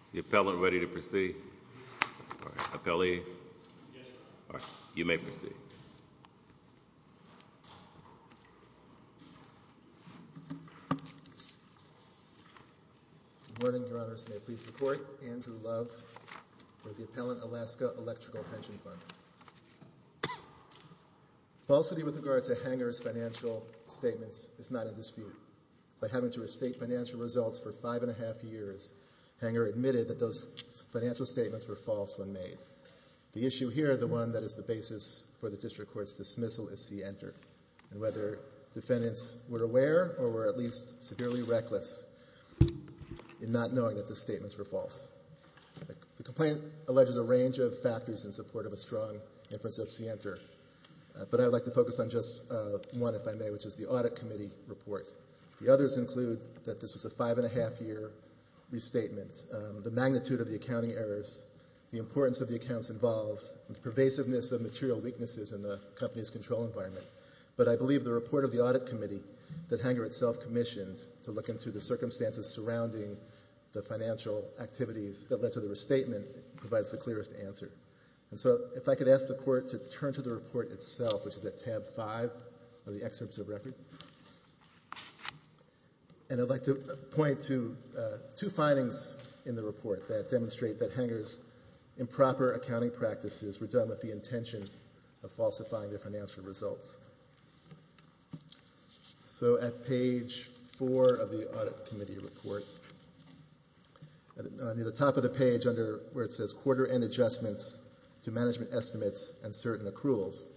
It's the appellant ready to proceed, or the appellee? Yes, sir. All right. You may proceed. Good morning. Your Honors, may it please the Court, Andrew Love for the Appellant Alaska Electrical Pension Fund. Falsity with regard to Hanger's financial statements is not in dispute. By having to restate financial results for five and a half years, Hanger admitted that those financial statements were false when made. The issue here, the one that is the basis for the District Court's dismissal, is C-ENTER. And whether defendants were aware or were at least severely reckless in not knowing that the statements were false. The complaint alleges a range of factors in support of a strong inference of C-ENTER, but I would like to focus on just one, if I may, which is the Audit Committee report. The others include that this was a five and a half year restatement, the magnitude of the accounting errors, the importance of the accounts involved, the pervasiveness of material weaknesses in the company's control environment. But I believe the report of the Audit Committee that Hanger itself commissioned to look into the circumstances surrounding the financial activities that led to the restatement provides the clearest answer. And so, if I could ask the Court to turn to the report itself, which is at tab five of the excerpts of record. And I'd like to point to two findings in the report that demonstrate that Hanger's improper accounting practices were done with the intention of falsifying their financial results. So at page four of the Audit Committee report, near the top of the page where it says quarter end adjustments to management estimates and certain accruals,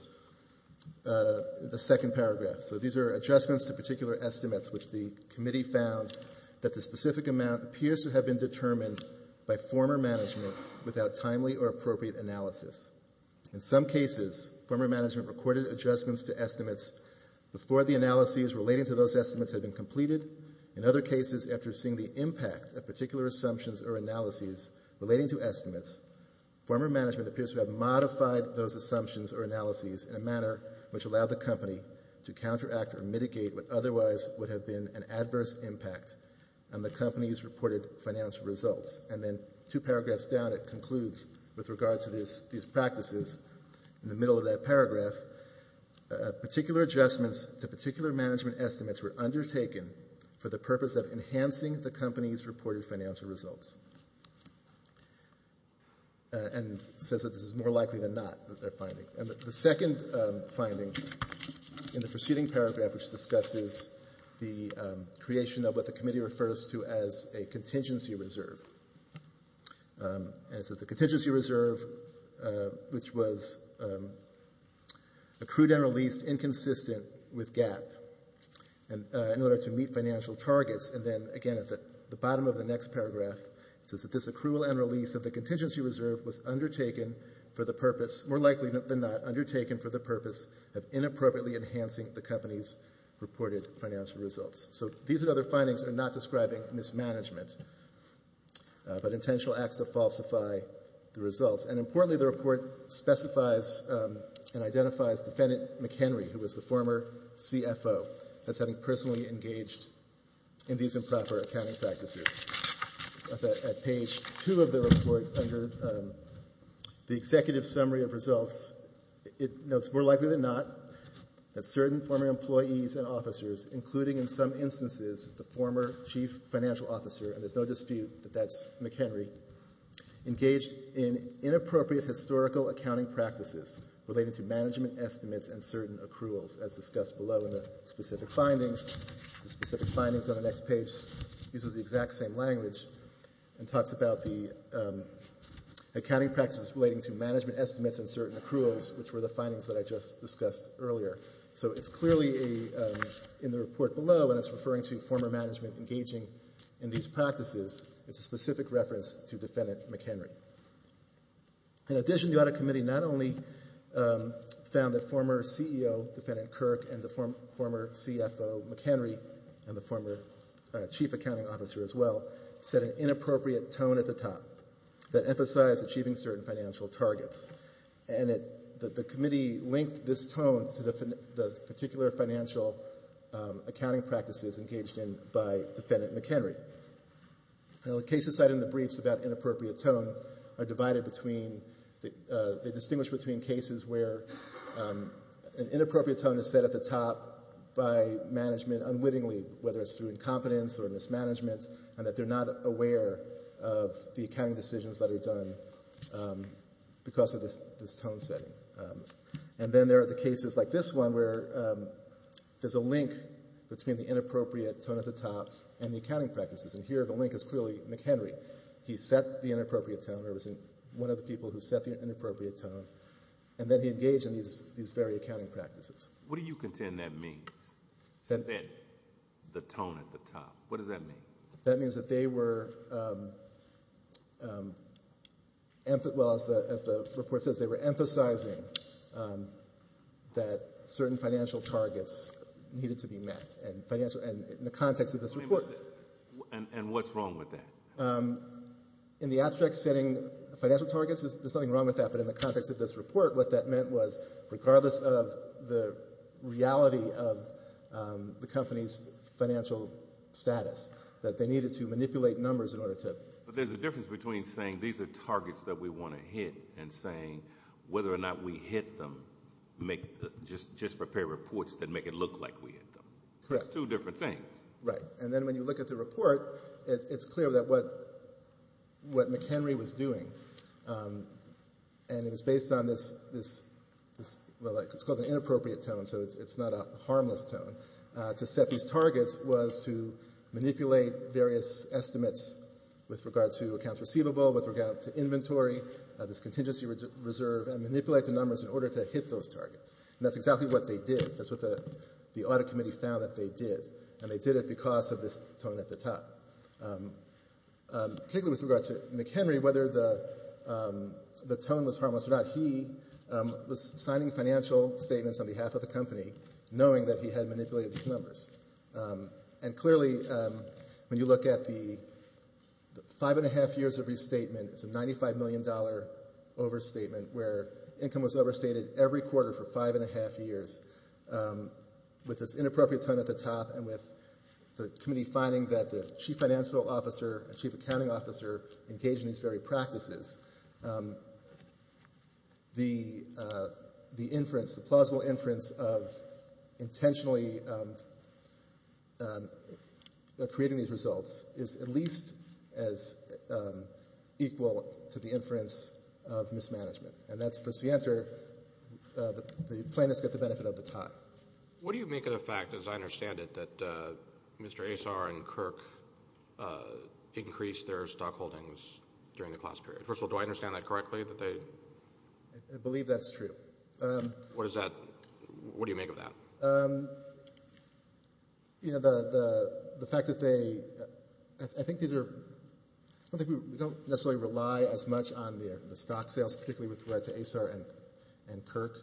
the second paragraph. So these are adjustments to particular estimates which the Committee found that the specific amount appears to have been determined by former management without timely or appropriate analysis. In some cases, former management recorded adjustments to estimates before the analyses relating to those estimates had been completed. In other cases, after seeing the impact of particular assumptions or analyses relating to estimates, former management appears to have modified those assumptions or analyses in a manner which allowed the company to counteract or mitigate what otherwise would have been an adverse impact on the company's reported financial results. And then two paragraphs down, it concludes with regard to these practices, in the middle of that paragraph, particular adjustments to particular management estimates were undertaken for the purpose of enhancing the company's reported financial results. And it says that this is more likely than not that they're finding. And the second finding in the preceding paragraph, which discusses the creation of what the Committee refers to as a contingency reserve, and it says the contingency reserve, which was accrued and released inconsistent with GAAP in order to meet financial targets, and then again at the bottom of the next paragraph, it says that this accrual and release of the contingency reserve were not undertaken for the purpose of inappropriately enhancing the company's reported financial results. So these and other findings are not describing mismanagement, but intentional acts to falsify the results. And importantly, the report specifies and identifies Defendant McHenry, who was the former CFO, as having personally engaged in these improper accounting practices. At page two of the report, under the Executive Summary of Results, it notes more likely than not that certain former employees and officers, including in some instances the former Chief Financial Officer, and there's no dispute that that's McHenry, engaged in inappropriate historical accounting practices related to management estimates and certain accruals, as discussed below in the specific findings. The specific findings on the next page uses the exact same language and talks about the accounting practices relating to management estimates and certain accruals, which were the findings that I just discussed earlier. So it's clearly in the report below, and it's referring to former management engaging in these practices. It's a specific reference to Defendant McHenry. In addition, the Audit Committee not only found that former CEO Defendant Kirk and the former CFO McHenry, and the former Chief Accounting Officer as well, set an inappropriate tone at the top that emphasized achieving certain financial targets, and the Committee linked this tone to the particular financial accounting practices engaged in by Defendant McHenry. Now, the cases cited in the briefs about inappropriate tone are divided between, they distinguish between cases where an inappropriate tone is set at the top by management unwittingly, whether it's through incompetence or mismanagement, and that they're not aware of the accounting decisions that are done because of this tone setting. And then there are the cases like this one where there's a link between the inappropriate tone at the top and the accounting practices, and here the link is clearly McHenry. He set the inappropriate tone, or it was one of the people who set the inappropriate tone, and then he engaged in these very accounting practices. What do you contend that means, set the tone at the top? What does that mean? That means that they were, well, as the report says, they were emphasizing that certain financial targets needed to be met, and in the context of this report. And what's wrong with that? In the abstract setting, financial targets, there's nothing wrong with that, but in the context of this report, what that meant was, regardless of the reality of the company's financial status, that they needed to manipulate numbers in order to. But there's a difference between saying, these are targets that we want to hit, and saying, whether or not we hit them, just prepare reports that make it look like we hit them. Correct. It's two different things. Right. And then when you look at the report, it's clear that what McHenry was doing, and it was based on this, well, it's called an inappropriate tone, so it's not a harmless tone, to set these targets was to manipulate various estimates with regard to accounts receivable, with regard to inventory, this contingency reserve, and manipulate the numbers in order to hit those targets. And that's exactly what they did. That's what the audit committee found that they did, and they did it because of this tone at the top. Particularly with regard to McHenry, whether the tone was harmless or not, he was signing financial statements on behalf of the company, knowing that he had manipulated these numbers. And clearly, when you look at the five-and-a-half years of restatement, it's a $95 million overstatement where income was overstated every quarter for five-and-a-half years. With this inappropriate tone at the top, and with the committee finding that the chief financial officer, chief accounting officer engaged in these very practices, the inference, the plausible inference of intentionally creating these results is at least as equal to the And that's, for Sienter, the plaintiffs get the benefit of the tie. What do you make of the fact, as I understand it, that Mr. Asar and Kirk increased their stock holdings during the class period? First of all, do I understand that correctly, that they? I believe that's true. What is that? What do you make of that? You know, the fact that they, I think these are, I don't think we necessarily rely as far as Asar and Kirk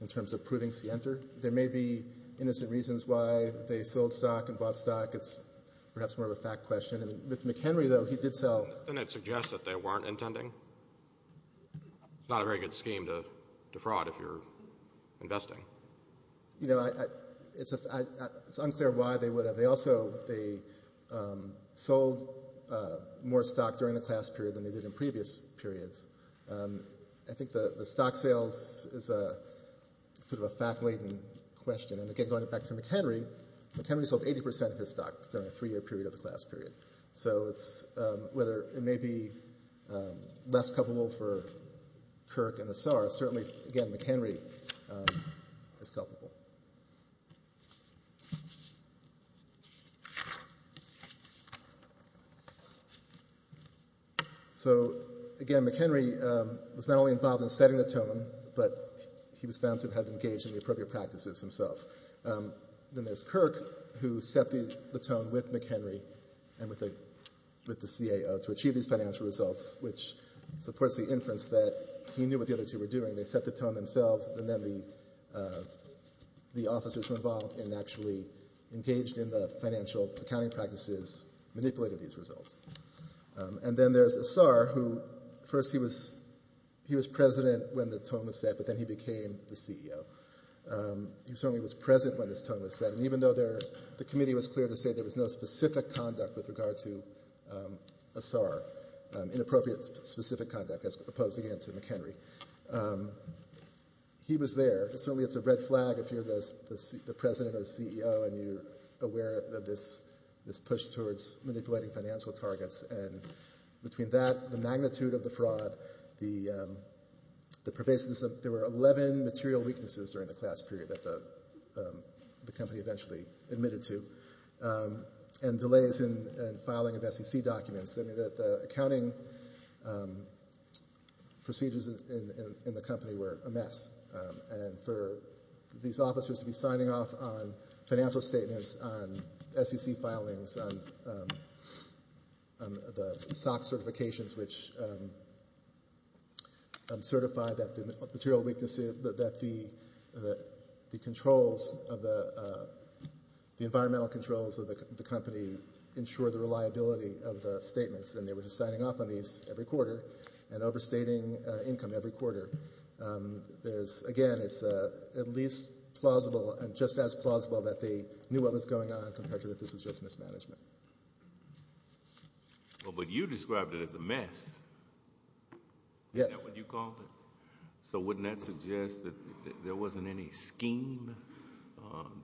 in terms of proving Sienter. There may be innocent reasons why they sold stock and bought stock. It's perhaps more of a fact question. And with McHenry, though, he did sell. Doesn't it suggest that they weren't intending? It's not a very good scheme to defraud if you're investing. You know, it's unclear why they would have. They also, they sold more stock during the class period than they did in previous periods. I think the stock sales is a, it's a bit of a fact-laden question. And again, going back to McHenry, McHenry sold 80 percent of his stock during a three-year period of the class period. So it's, whether it may be less culpable for Kirk and Asar, certainly, again, McHenry is culpable. So again, McHenry was not only involved in setting the tone, but he was found to have engaged in the appropriate practices himself. Then there's Kirk, who set the tone with McHenry and with the CAO to achieve these financial results, which supports the inference that he knew what the other two were doing. They set the tone themselves, and then the officers were involved and actually engaged in the financial accounting practices, manipulated these results. And then there's Asar, who first he was, he was president when the tone was set, but then he became the CEO. He certainly was president when this tone was set, and even though there, the committee was clear to say there was no specific conduct with regard to Asar, inappropriate specific conduct as opposed, again, to McHenry. He was there, and certainly it's a red flag if you're the president or the CEO and you're aware of this push towards manipulating financial targets, and between that, the magnitude of the fraud, the pervasiveness of, there were 11 material weaknesses during the class period that the company eventually admitted to, and delays in filing of SEC documents. The accounting procedures in the company were a mess, and for these officers to be signing off on financial statements, on SEC filings, on the SOX certifications, which certified that the material weaknesses, that the controls, the environmental controls of the company to ensure the reliability of the statements, and they were just signing off on these every quarter and overstating income every quarter, there's, again, it's at least plausible, and just as plausible that they knew what was going on compared to that this was just mismanagement. Well, but you described it as a mess. Yes. Isn't that what you called it? So wouldn't that suggest that there wasn't any scheme,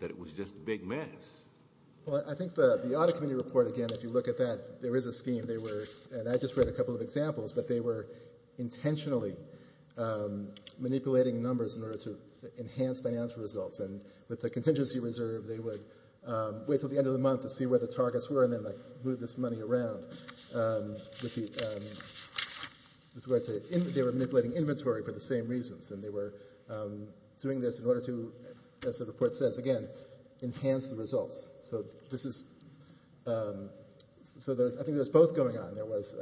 that it was just a big mess? Well, I think the audit committee report, again, if you look at that, there is a scheme. They were, and I just read a couple of examples, but they were intentionally manipulating numbers in order to enhance financial results, and with the contingency reserve, they would wait until the end of the month to see where the targets were, and then move this money around. They were manipulating inventory for the same reasons, and they were doing this in order to, as the report says, again, enhance the results. So this is, so I think there was both going on. There was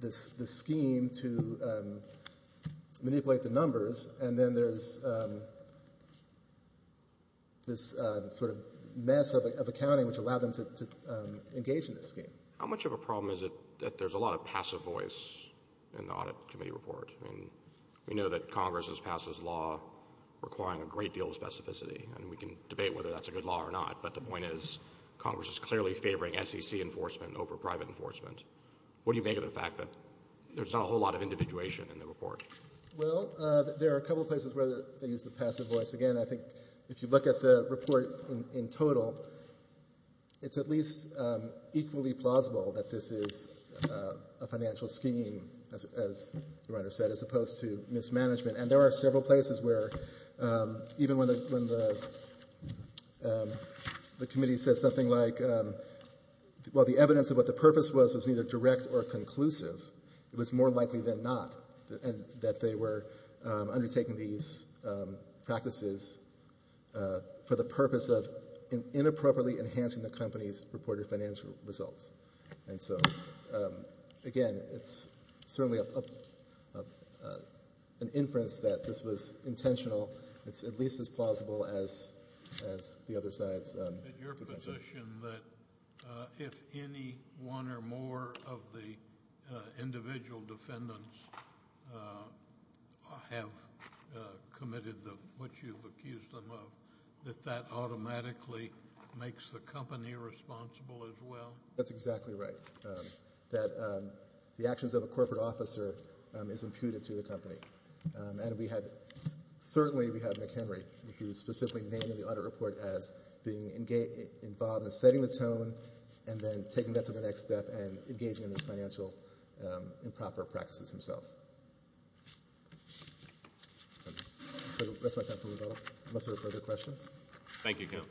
this scheme to manipulate the numbers, and then there's this sort of mess of accounting which allowed them to engage in this scheme. How much of a problem is it that there's a lot of passive voice in the audit committee report? I mean, we know that Congress has passed this law requiring a great deal of specificity, and we can debate whether that's a good law or not, but the point is Congress is clearly favoring SEC enforcement over private enforcement. What do you make of the fact that there's not a whole lot of individuation in the report? Well, there are a couple of places where they use the passive voice. Again, I think if you look at the report in total, it's at least equally plausible that this is a financial scheme, as the writer said, as opposed to mismanagement. And there are several places where, even when the committee says something like, well, the evidence of what the purpose was was either direct or conclusive, it was more likely than not that they were undertaking these practices for the purpose of inappropriately enhancing the company's reported financial results. And so, again, it's certainly an inference that this was intentional. It's at least as plausible as the other sides. But your position that if any one or more of the individual defendants have committed what you've accused them of, that that automatically makes the company responsible as well? That's exactly right. That the actions of a corporate officer is imputed to the company. And we have, certainly we have McHenry, who's specifically named in the audit report as being involved in setting the tone and then taking that to the next step and engaging in these financial improper practices himself. So, that's my time for rebuttal, unless there are further questions. Thank you, Counsel.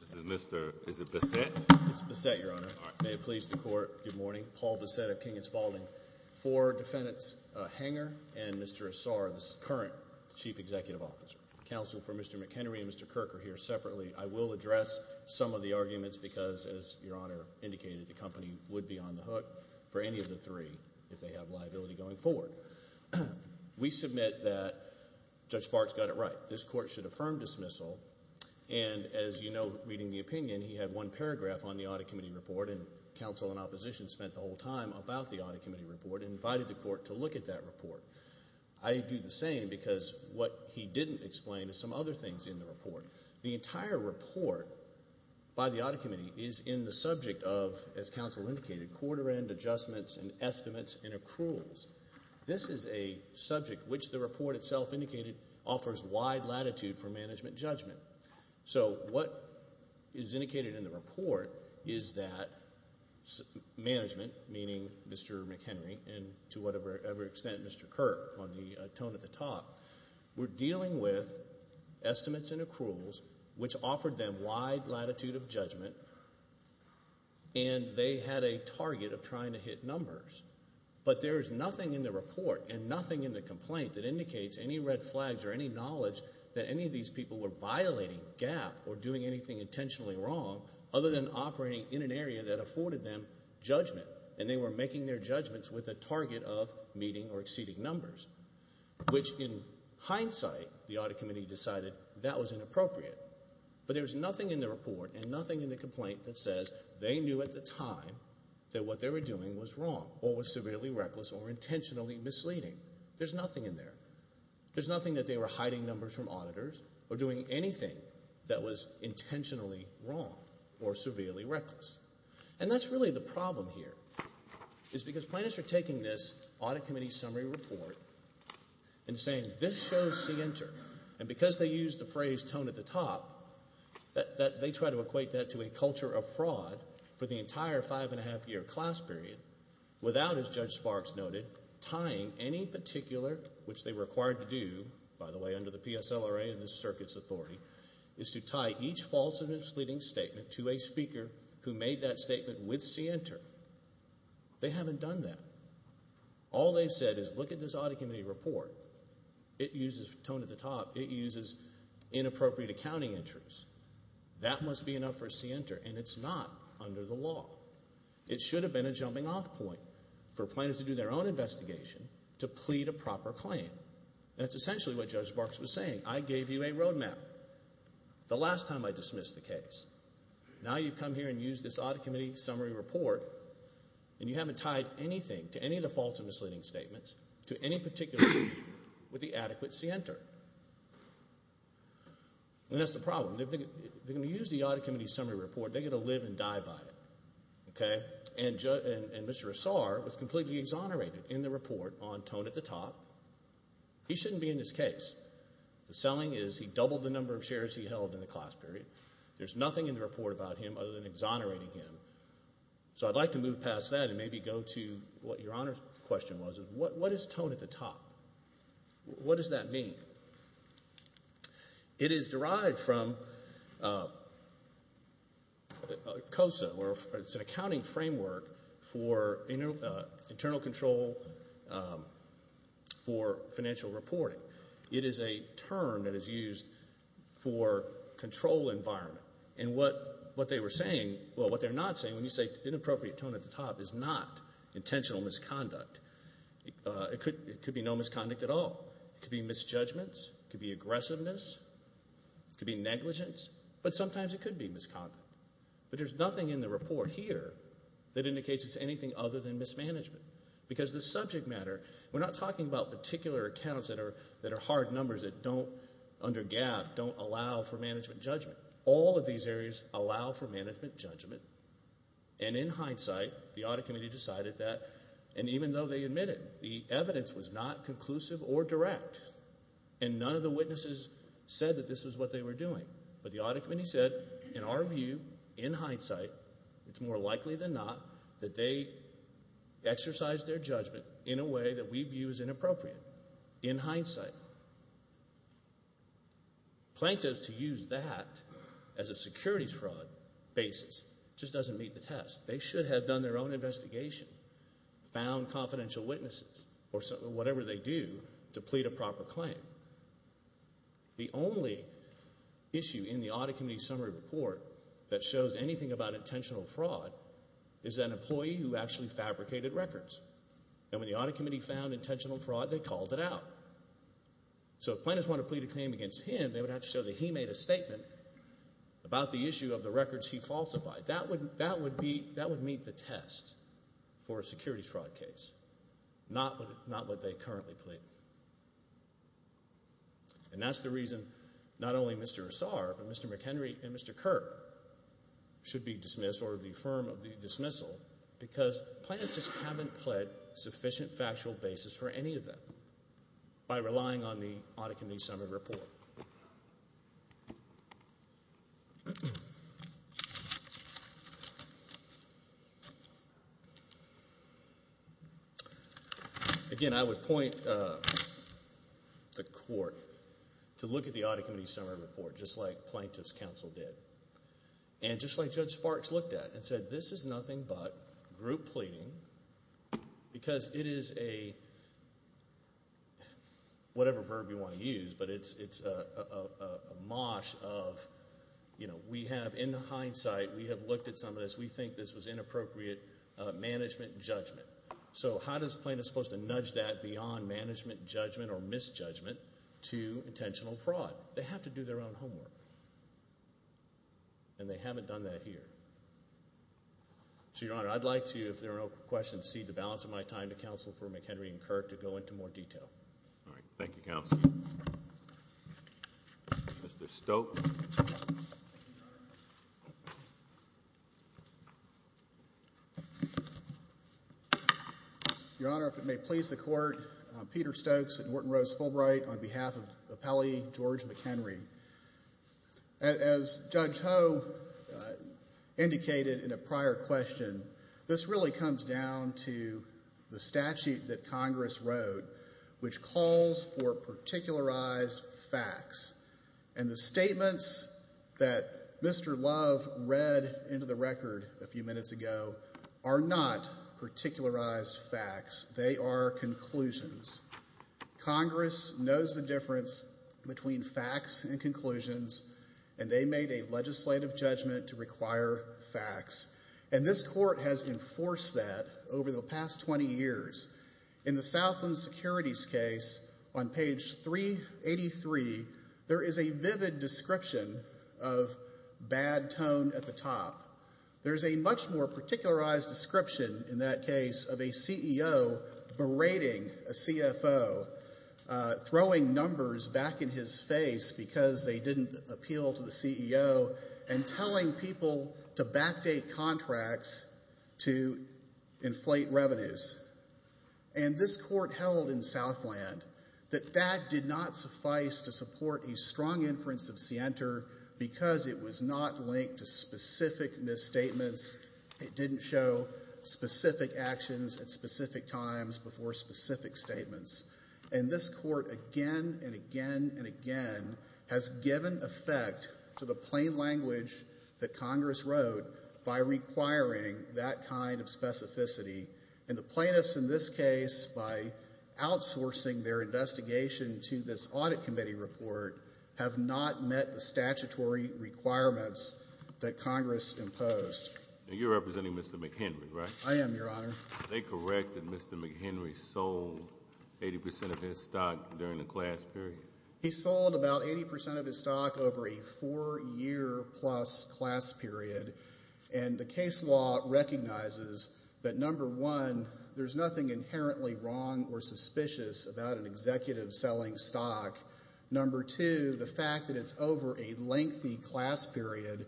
This is Mr. Is it Bessette? It's Bessette, Your Honor. May it please the Court. Good morning. Paul Bessette of King & Spaulding. For defendants Hanger and Mr. Asar, the current Chief Executive Officer, counsel for Mr. McHenry and Mr. Kirker here separately, I will address some of the arguments because, as Your Honor indicated, the company would be on the hook for any of the three if they have liability going forward. We submit that Judge Sparks got it right. This Court should affirm dismissal and, as you know, reading the opinion, he had one paragraph on the audit committee report and counsel and opposition spent the whole time about the audit committee report and invited the Court to look at that report. I do the same because what he didn't explain is some other things in the report. The entire report by the audit committee is in the subject of, as counsel indicated, quarter end adjustments and estimates and accruals. This is a subject which the report itself indicated offers wide latitude for management judgment. So what is indicated in the report is that management, meaning Mr. McHenry and, to whatever extent Mr. Kirker on the tone at the top, were dealing with estimates and accruals which offered them wide latitude of judgment and they had a target of trying to hit numbers. But there is nothing in the report and nothing in the complaint that indicates any red flags or any knowledge that any of these people were violating GAAP or doing anything intentionally wrong other than operating in an area that afforded them judgment and they were making their judgments with a target of meeting or exceeding numbers, which in hindsight the audit committee decided that was inappropriate. But there's nothing in the report and nothing in the complaint that says they knew at the time that what they were doing was wrong or was severely reckless or intentionally misleading. There's nothing in there. There's nothing that they were hiding numbers from auditors or doing anything that was intentionally wrong or severely reckless. And that's really the problem here is because plaintiffs are taking this audit committee summary report and saying this shows C enter and because they used the phrase tone at the top that they try to equate that to a culture of fraud for the entire five and a half year class period without, as Judge Sparks noted, tying any particular, which they were required to do, by the way, under the PSLRA and the circuit's authority, is to tie each false misleading statement to a speaker who made that statement with C enter. They haven't done that. All they've said is look at this audit committee report. It uses tone at the top. It uses inappropriate accounting entries. That must be enough for C enter and it's not under the law. It should have been a jumping off point for plaintiffs to do their own investigation to plead a proper claim. That's essentially what Judge Sparks was saying. I gave you a roadmap. The last time I dismissed the case. Now you've come here and used this audit committee summary report and you haven't tied anything to any of the false or misleading statements to any particular group with the adequate C enter. And that's the problem. If they're going to use the audit committee summary report, they're going to live and die by it. And Mr. Assar was completely exonerated in the report on tone at the top. He shouldn't be in this case. The selling is he doubled the number of shares he held in the class period. There's nothing in the report about him other than exonerating him. So I'd like to move past that and maybe go to what your Honor's question was. What is tone at the top? What does that mean? It is derived from COSA or it's an accounting framework for internal control for financial reporting. It is a term that is used for control environment. And what they were saying, well what they're not saying, when you say inappropriate tone at the top is not intentional misconduct. It could be no misconduct at all. It could be misjudgments, it could be aggressiveness, it could be negligence, but sometimes it could be misconduct. But there's nothing in the report here that indicates it's anything other than mismanagement. Because the subject matter, we're not talking about particular accounts that are hard numbers that don't, under GAAP, don't allow for management judgment. All of these areas allow for management judgment. And in hindsight, the Audit Committee decided that, and even though they admitted, the evidence was not conclusive or direct, and none of the witnesses said that this is what they were doing. But the Audit Committee said, in our view, in hindsight, it's more likely than not, that they exercised their judgment in a way that we view as inappropriate, in hindsight. Plaintiffs, to use that as a securities fraud basis, just doesn't meet the test. They should have done their own investigation, found confidential witnesses, or whatever they do, to plead a proper claim. The only issue in the Audit Committee summary report that shows anything about intentional fraud is that an employee who actually fabricated records, and when the Audit Committee found intentional fraud, they called it out. So if plaintiffs want to plead a claim against him, they would have to show that he made a statement about the issue of the records he falsified. That would meet the test for a securities fraud case, not what they currently plead. And that's the reason not only Mr. Assar, but Mr. McHenry and Mr. Kirk should be dismissed or the firm of the dismissal, because plaintiffs just haven't pled sufficient factual basis for any of them by relying on the Audit Committee summary report. Again, I would point the Court to look at the Audit Committee summary report just like plaintiffs' counsel did. And just like Judge Sparks looked at it and said, this is nothing but group pleading, because it is a, whatever verb you want to use, but it's a mosh of, you know, we have, in hindsight, we have looked at some of this. We think this was inappropriate management judgment. So how does a plaintiff supposed to nudge that beyond management judgment or misjudgment to intentional fraud? Well, they have to do their own homework, and they haven't done that here. So, Your Honor, I'd like to, if there are no questions, cede the balance of my time to Counsel for McHenry and Kirk to go into more detail. All right. Thank you, Counsel. Mr. Stokes. Thank you, Your Honor. Your Honor, if it may please the Court, Peter Stokes and Norton Rose Fulbright on behalf of the appellee, George McHenry. As Judge Ho indicated in a prior question, this really comes down to the statute that Congress wrote, which calls for particularized facts. And the statements that Mr. Love read into the record a few minutes ago are not particularized facts. They are conclusions. Congress knows the difference between facts and conclusions, and they made a legislative judgment to require facts. And this Court has enforced that over the past 20 years. In the Southland Securities case, on page 383, there is a vivid description of bad tone at the top. There's a much more particularized description in that case of a CEO berating a CFO, throwing numbers back in his face because they didn't appeal to the CEO, and telling people to backdate contracts to inflate revenues. And this Court held in Southland that that did not suffice to support a strong inference of Sienter because it was not linked to specific misstatements. It didn't show specific actions at specific times before specific statements. And this Court again and again and again has given effect to the plain language that Congress wrote by requiring that kind of specificity. And the plaintiffs in this case, by outsourcing their investigation to this Audit Committee report, have not met the statutory requirements that Congress imposed. And you're representing Mr. McHenry, right? I am, Your Honor. Are they correct that Mr. McHenry sold 80% of his stock during the class period? He sold about 80% of his stock over a four-year-plus class period. And the case law recognizes that, number one, there's nothing inherently wrong or suspicious about an executive selling stock. Number two, the fact that it's over a lengthy class period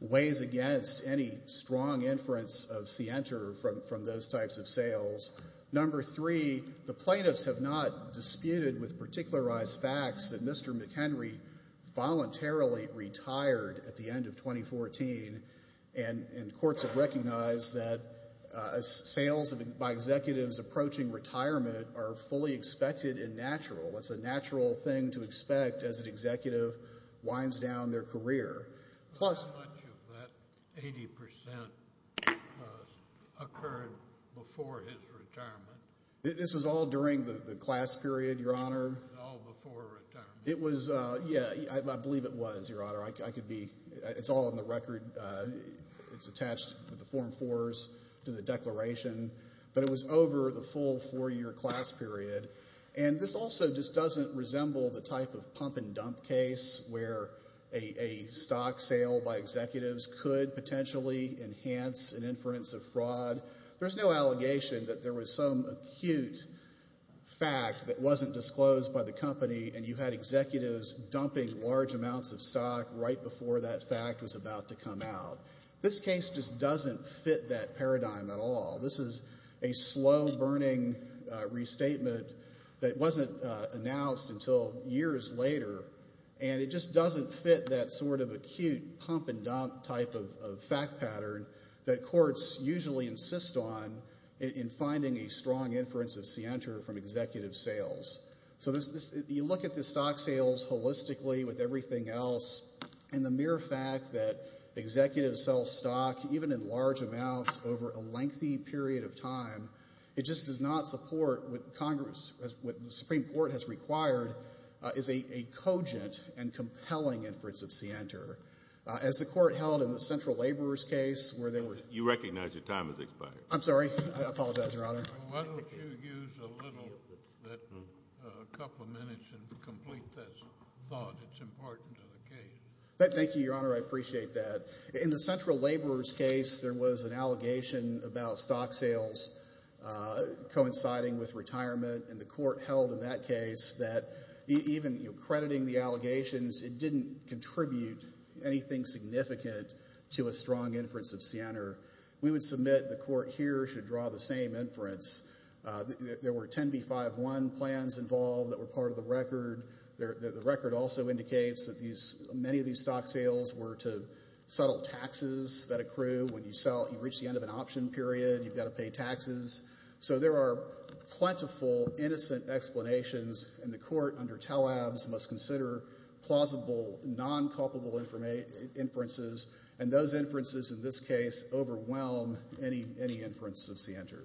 weighs against any strong inference of Sienter from those types of sales. Number three, the plaintiffs have not disputed with particularized facts that Mr. McHenry voluntarily retired at the end of 2014. And courts have recognized that sales by executives approaching retirement are fully expected and natural. It's a natural thing to expect as an executive winds down their career. How much of that 80% occurred before his retirement? This was all during the class period, Your Honor? It was all before retirement. It was, yeah, I believe it was, Your Honor. I could be, it's all in the record, it's attached with the form fours to the declaration. But it was over the full four-year class period. And this also just doesn't resemble the type of pump-and-dump case where a stock sale by executives could potentially enhance an inference of fraud. There's no allegation that there was some acute fact that wasn't disclosed by the company and you had executives dumping large amounts of stock right before that fact was about to come out. This case just doesn't fit that paradigm at all. This is a slow-burning restatement that wasn't announced until years later. And it just doesn't fit that sort of acute pump-and-dump type of fact pattern that courts usually insist on in finding a strong inference of scienter from executive sales. So you look at the stock sales holistically with everything else, and the mere fact that executives sell stock, even in large amounts, over a lengthy period of time, it just does not support what Congress, what the Supreme Court has required is a cogent and compelling inference of scienter. As the Court held in the Central Laborers case where they were... You recognize your time has expired. I'm sorry. I apologize, Your Honor. Why don't you use a little, a couple of minutes, and complete this thought that's important to the case. Thank you, Your Honor. I appreciate that. In the Central Laborers case, there was an allegation about stock sales coinciding with retirement, and the Court held in that case that even crediting the allegations, it didn't contribute anything significant to a strong inference of scienter. We would submit the Court here should draw the same inference. There were 10b-5-1 plans involved that were part of the record. The record also indicates that many of these stock sales were to settle taxes that accrue when you sell, you reach the end of an option period, you've got to pay taxes. So there are plentiful, innocent explanations, and the Court under Taleb's must consider plausible, non-culpable inferences, and those inferences in this case overwhelm any inference of scienter.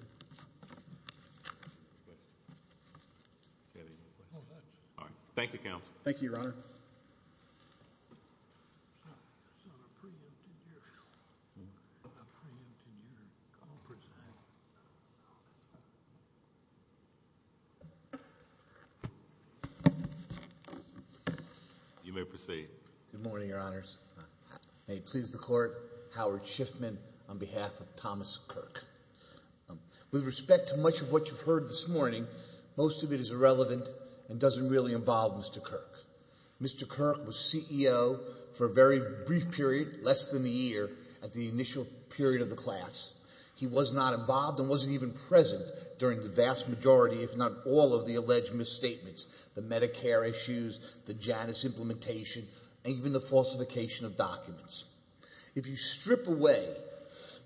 Any other questions? All right. Thank you, Counsel. Thank you, Your Honor. It's on a pre-empted year. A pre-empted year. You may proceed. Good morning, Your Honors. May it please the Court, Howard Schiffman on behalf of Thomas Kirk. With respect to much of what you've heard this morning, most of it is irrelevant and doesn't really involve Mr. Kirk. Mr. Kirk was CEO for a very brief period, less than a year, at the initial period of the class. He was not involved and wasn't even present during the vast majority, if not all, of the alleged misstatements, the Medicare issues, the Janus implementation, and even the falsification of documents. If you strip away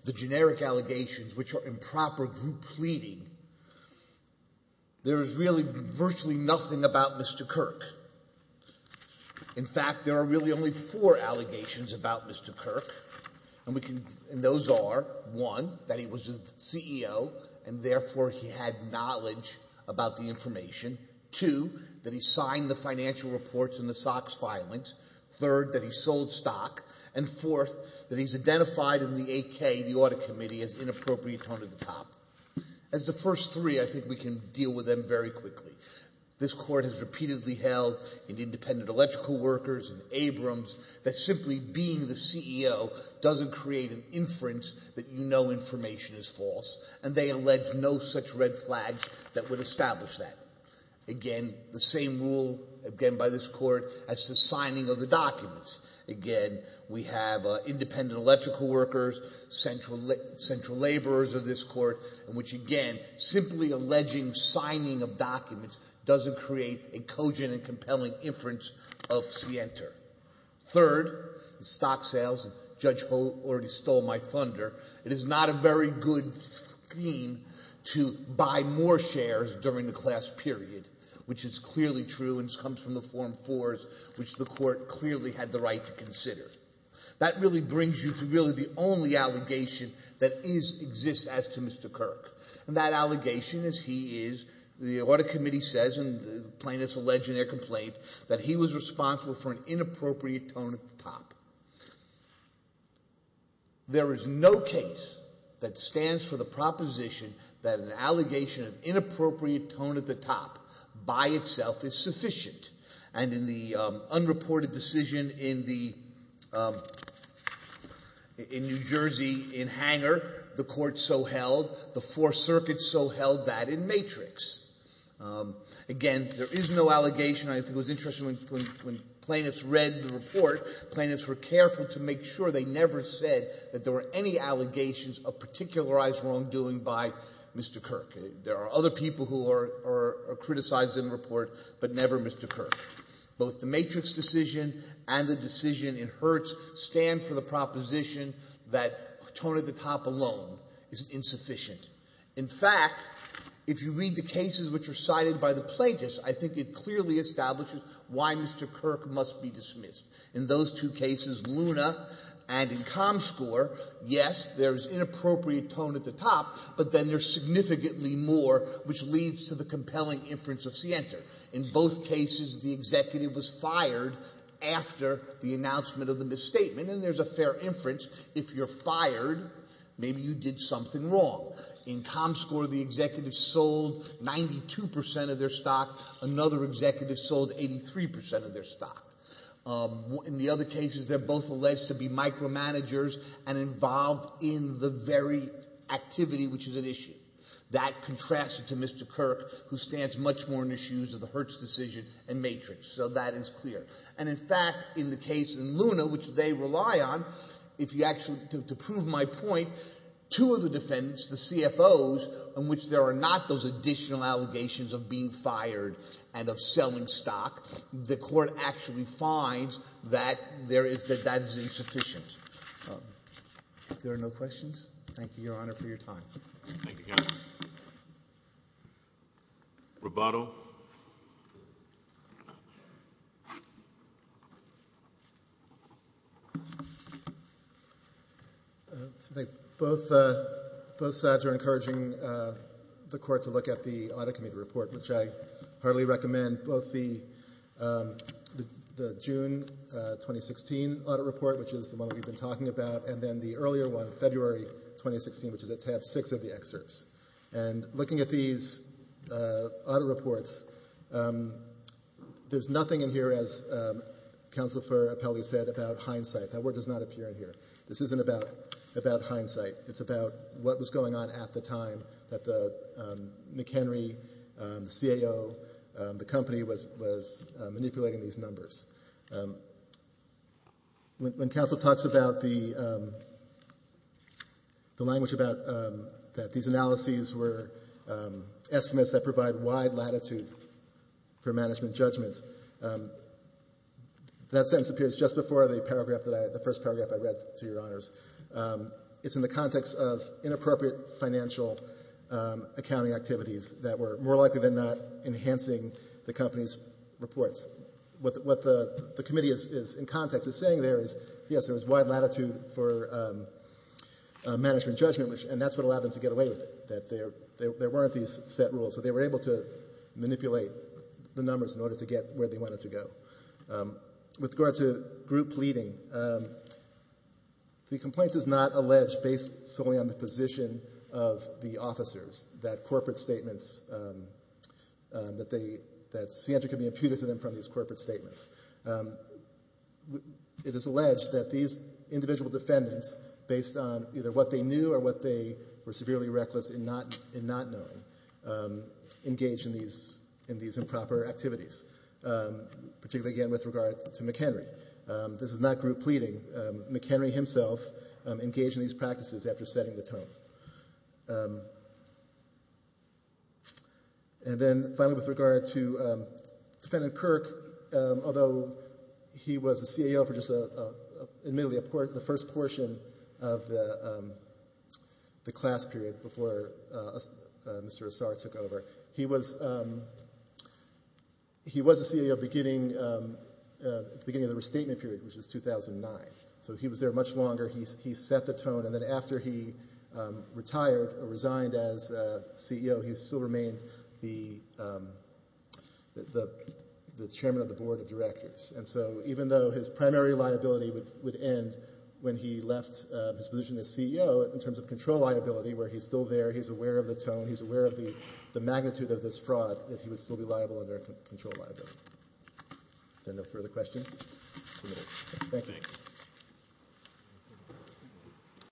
the generic allegations, which are improper group pleading, there is really virtually nothing about Mr. Kirk. In fact, there are really only four allegations about Mr. Kirk, and those are, one, that he was a CEO and therefore he had knowledge about the information, two, that he signed the financial reports in the SOX filings, third, that he sold stock, and fourth, that he's identified in the 8K, the audit committee, as inappropriate under the top. As the first three, I think we can deal with them very quickly. This court has repeatedly held in independent electrical workers, in Abrams, that simply being the CEO doesn't create an inference that you know information is false, and they allege no such red flags that would establish that. Again, the same rule, again by this court, as to signing of the documents. Again, we have independent electrical workers, central laborers of this court, which again, simply alleging signing of documents doesn't create a cogent and compelling inference of scienter. Third, the stock sales, and Judge Holt already stole my thunder, it is not a very good scheme to buy more shares during the class period, which is clearly true, and this comes from the form fours, which the court clearly had the right to consider. That really brings you to really the only allegation that exists as to Mr. Kirk, and that allegation is he is, the audit committee says, and the plaintiffs allege in their complaint, that he was responsible for an inappropriate tone at the top. There is no case that stands for the proposition that an allegation of inappropriate tone at the top by itself is sufficient, and in the unreported decision in the, in New Jersey in Hanger, the court so held, the Fourth Circuit so held that in Matrix. Again, there is no allegation, I think it was interesting when plaintiffs read the report, plaintiffs were careful to make sure they never said that there were any allegations of particularized wrongdoing by Mr. Kirk. There are other people who are criticized in the report, but never Mr. Kirk. Both the Matrix decision and the decision in Hertz stand for the proposition that tone at the top alone is insufficient. In fact, if you read the cases which are cited by the plaintiffs, I think it clearly establishes why Mr. Kirk must be dismissed. In those two cases, Luna and in Comscore, yes, there is inappropriate tone at the top, but then there's significantly more, which leads to the compelling inference of Sienter. In both cases, the executive was fired after the announcement of the misstatement, and there's a fair inference. If you're fired, maybe you did something wrong. In Comscore, the executive sold 92% of their stock. Another executive sold 83% of their stock. In the other cases, they're both alleged to be micromanagers and involved in the very activity, which is an issue. That contrasts to Mr. Kirk, who stands much more in the shoes of the Hertz decision and Matrix, so that is clear. And in fact, in the case in Luna, which they rely on, if you actually, to prove my point, two of the defendants, the CFOs, in which there are not those additional allegations of being fired and of selling stock, the court actually finds that there is, that that is insufficient. If there are no questions, thank you, Your Honor, for your time. Thank you, Your Honor. Roboto? Both sides are encouraging the court to look at the audit committee report, which I heartily recommend, both the June 2016 audit report, which is the one we've been talking about, and then the earlier one, February 2016, which is at tab six of the excerpts. And looking at these audit reports, there's nothing in here, as Counselor Ferrappelli said, about hindsight. That word does not appear in here. This isn't about hindsight. It's about what was going on at the time that the McHenry, the CAO, the company was manipulating these numbers. When Counselor talks about the language about that these analyses were estimates that provide wide latitude for management judgments, that sentence appears just before the paragraph that I, the first paragraph I read, to Your Honors. It's in the context of inappropriate financial accounting activities that were more likely than not enhancing the company's reports. What the committee is, in context, is saying there is, yes, there is wide latitude for management judgment, and that's what allowed them to get away with it, that there weren't these set rules. So they were able to manipulate the numbers in order to get where they wanted to go. With regard to group pleading, the complaint is not alleged based solely on the position of the officers that corporate statements, that they, that scientrically imputed to them from these corporate statements. It is alleged that these individual defendants, based on either what they knew or what they were severely reckless in not knowing, engaged in these improper activities, particularly again with regard to McHenry. This is not group pleading. McHenry himself engaged in these practices after setting the tone. And then finally with regard to Defendant Kirk, although he was a CAO for just, admittedly, the first portion of the class period before Mr. Assar took over, he was, he was a CAO at the beginning, beginning of the restatement period, which was 2009. So he was there much longer, he set the tone, and then after he retired, resigned as CEO, he still remained the Chairman of the Board of Directors. And so even though his primary liability would end when he left his position as CEO, in terms of control liability, where he's still there, he's aware of the tone, he's aware of the No further questions? Thank you.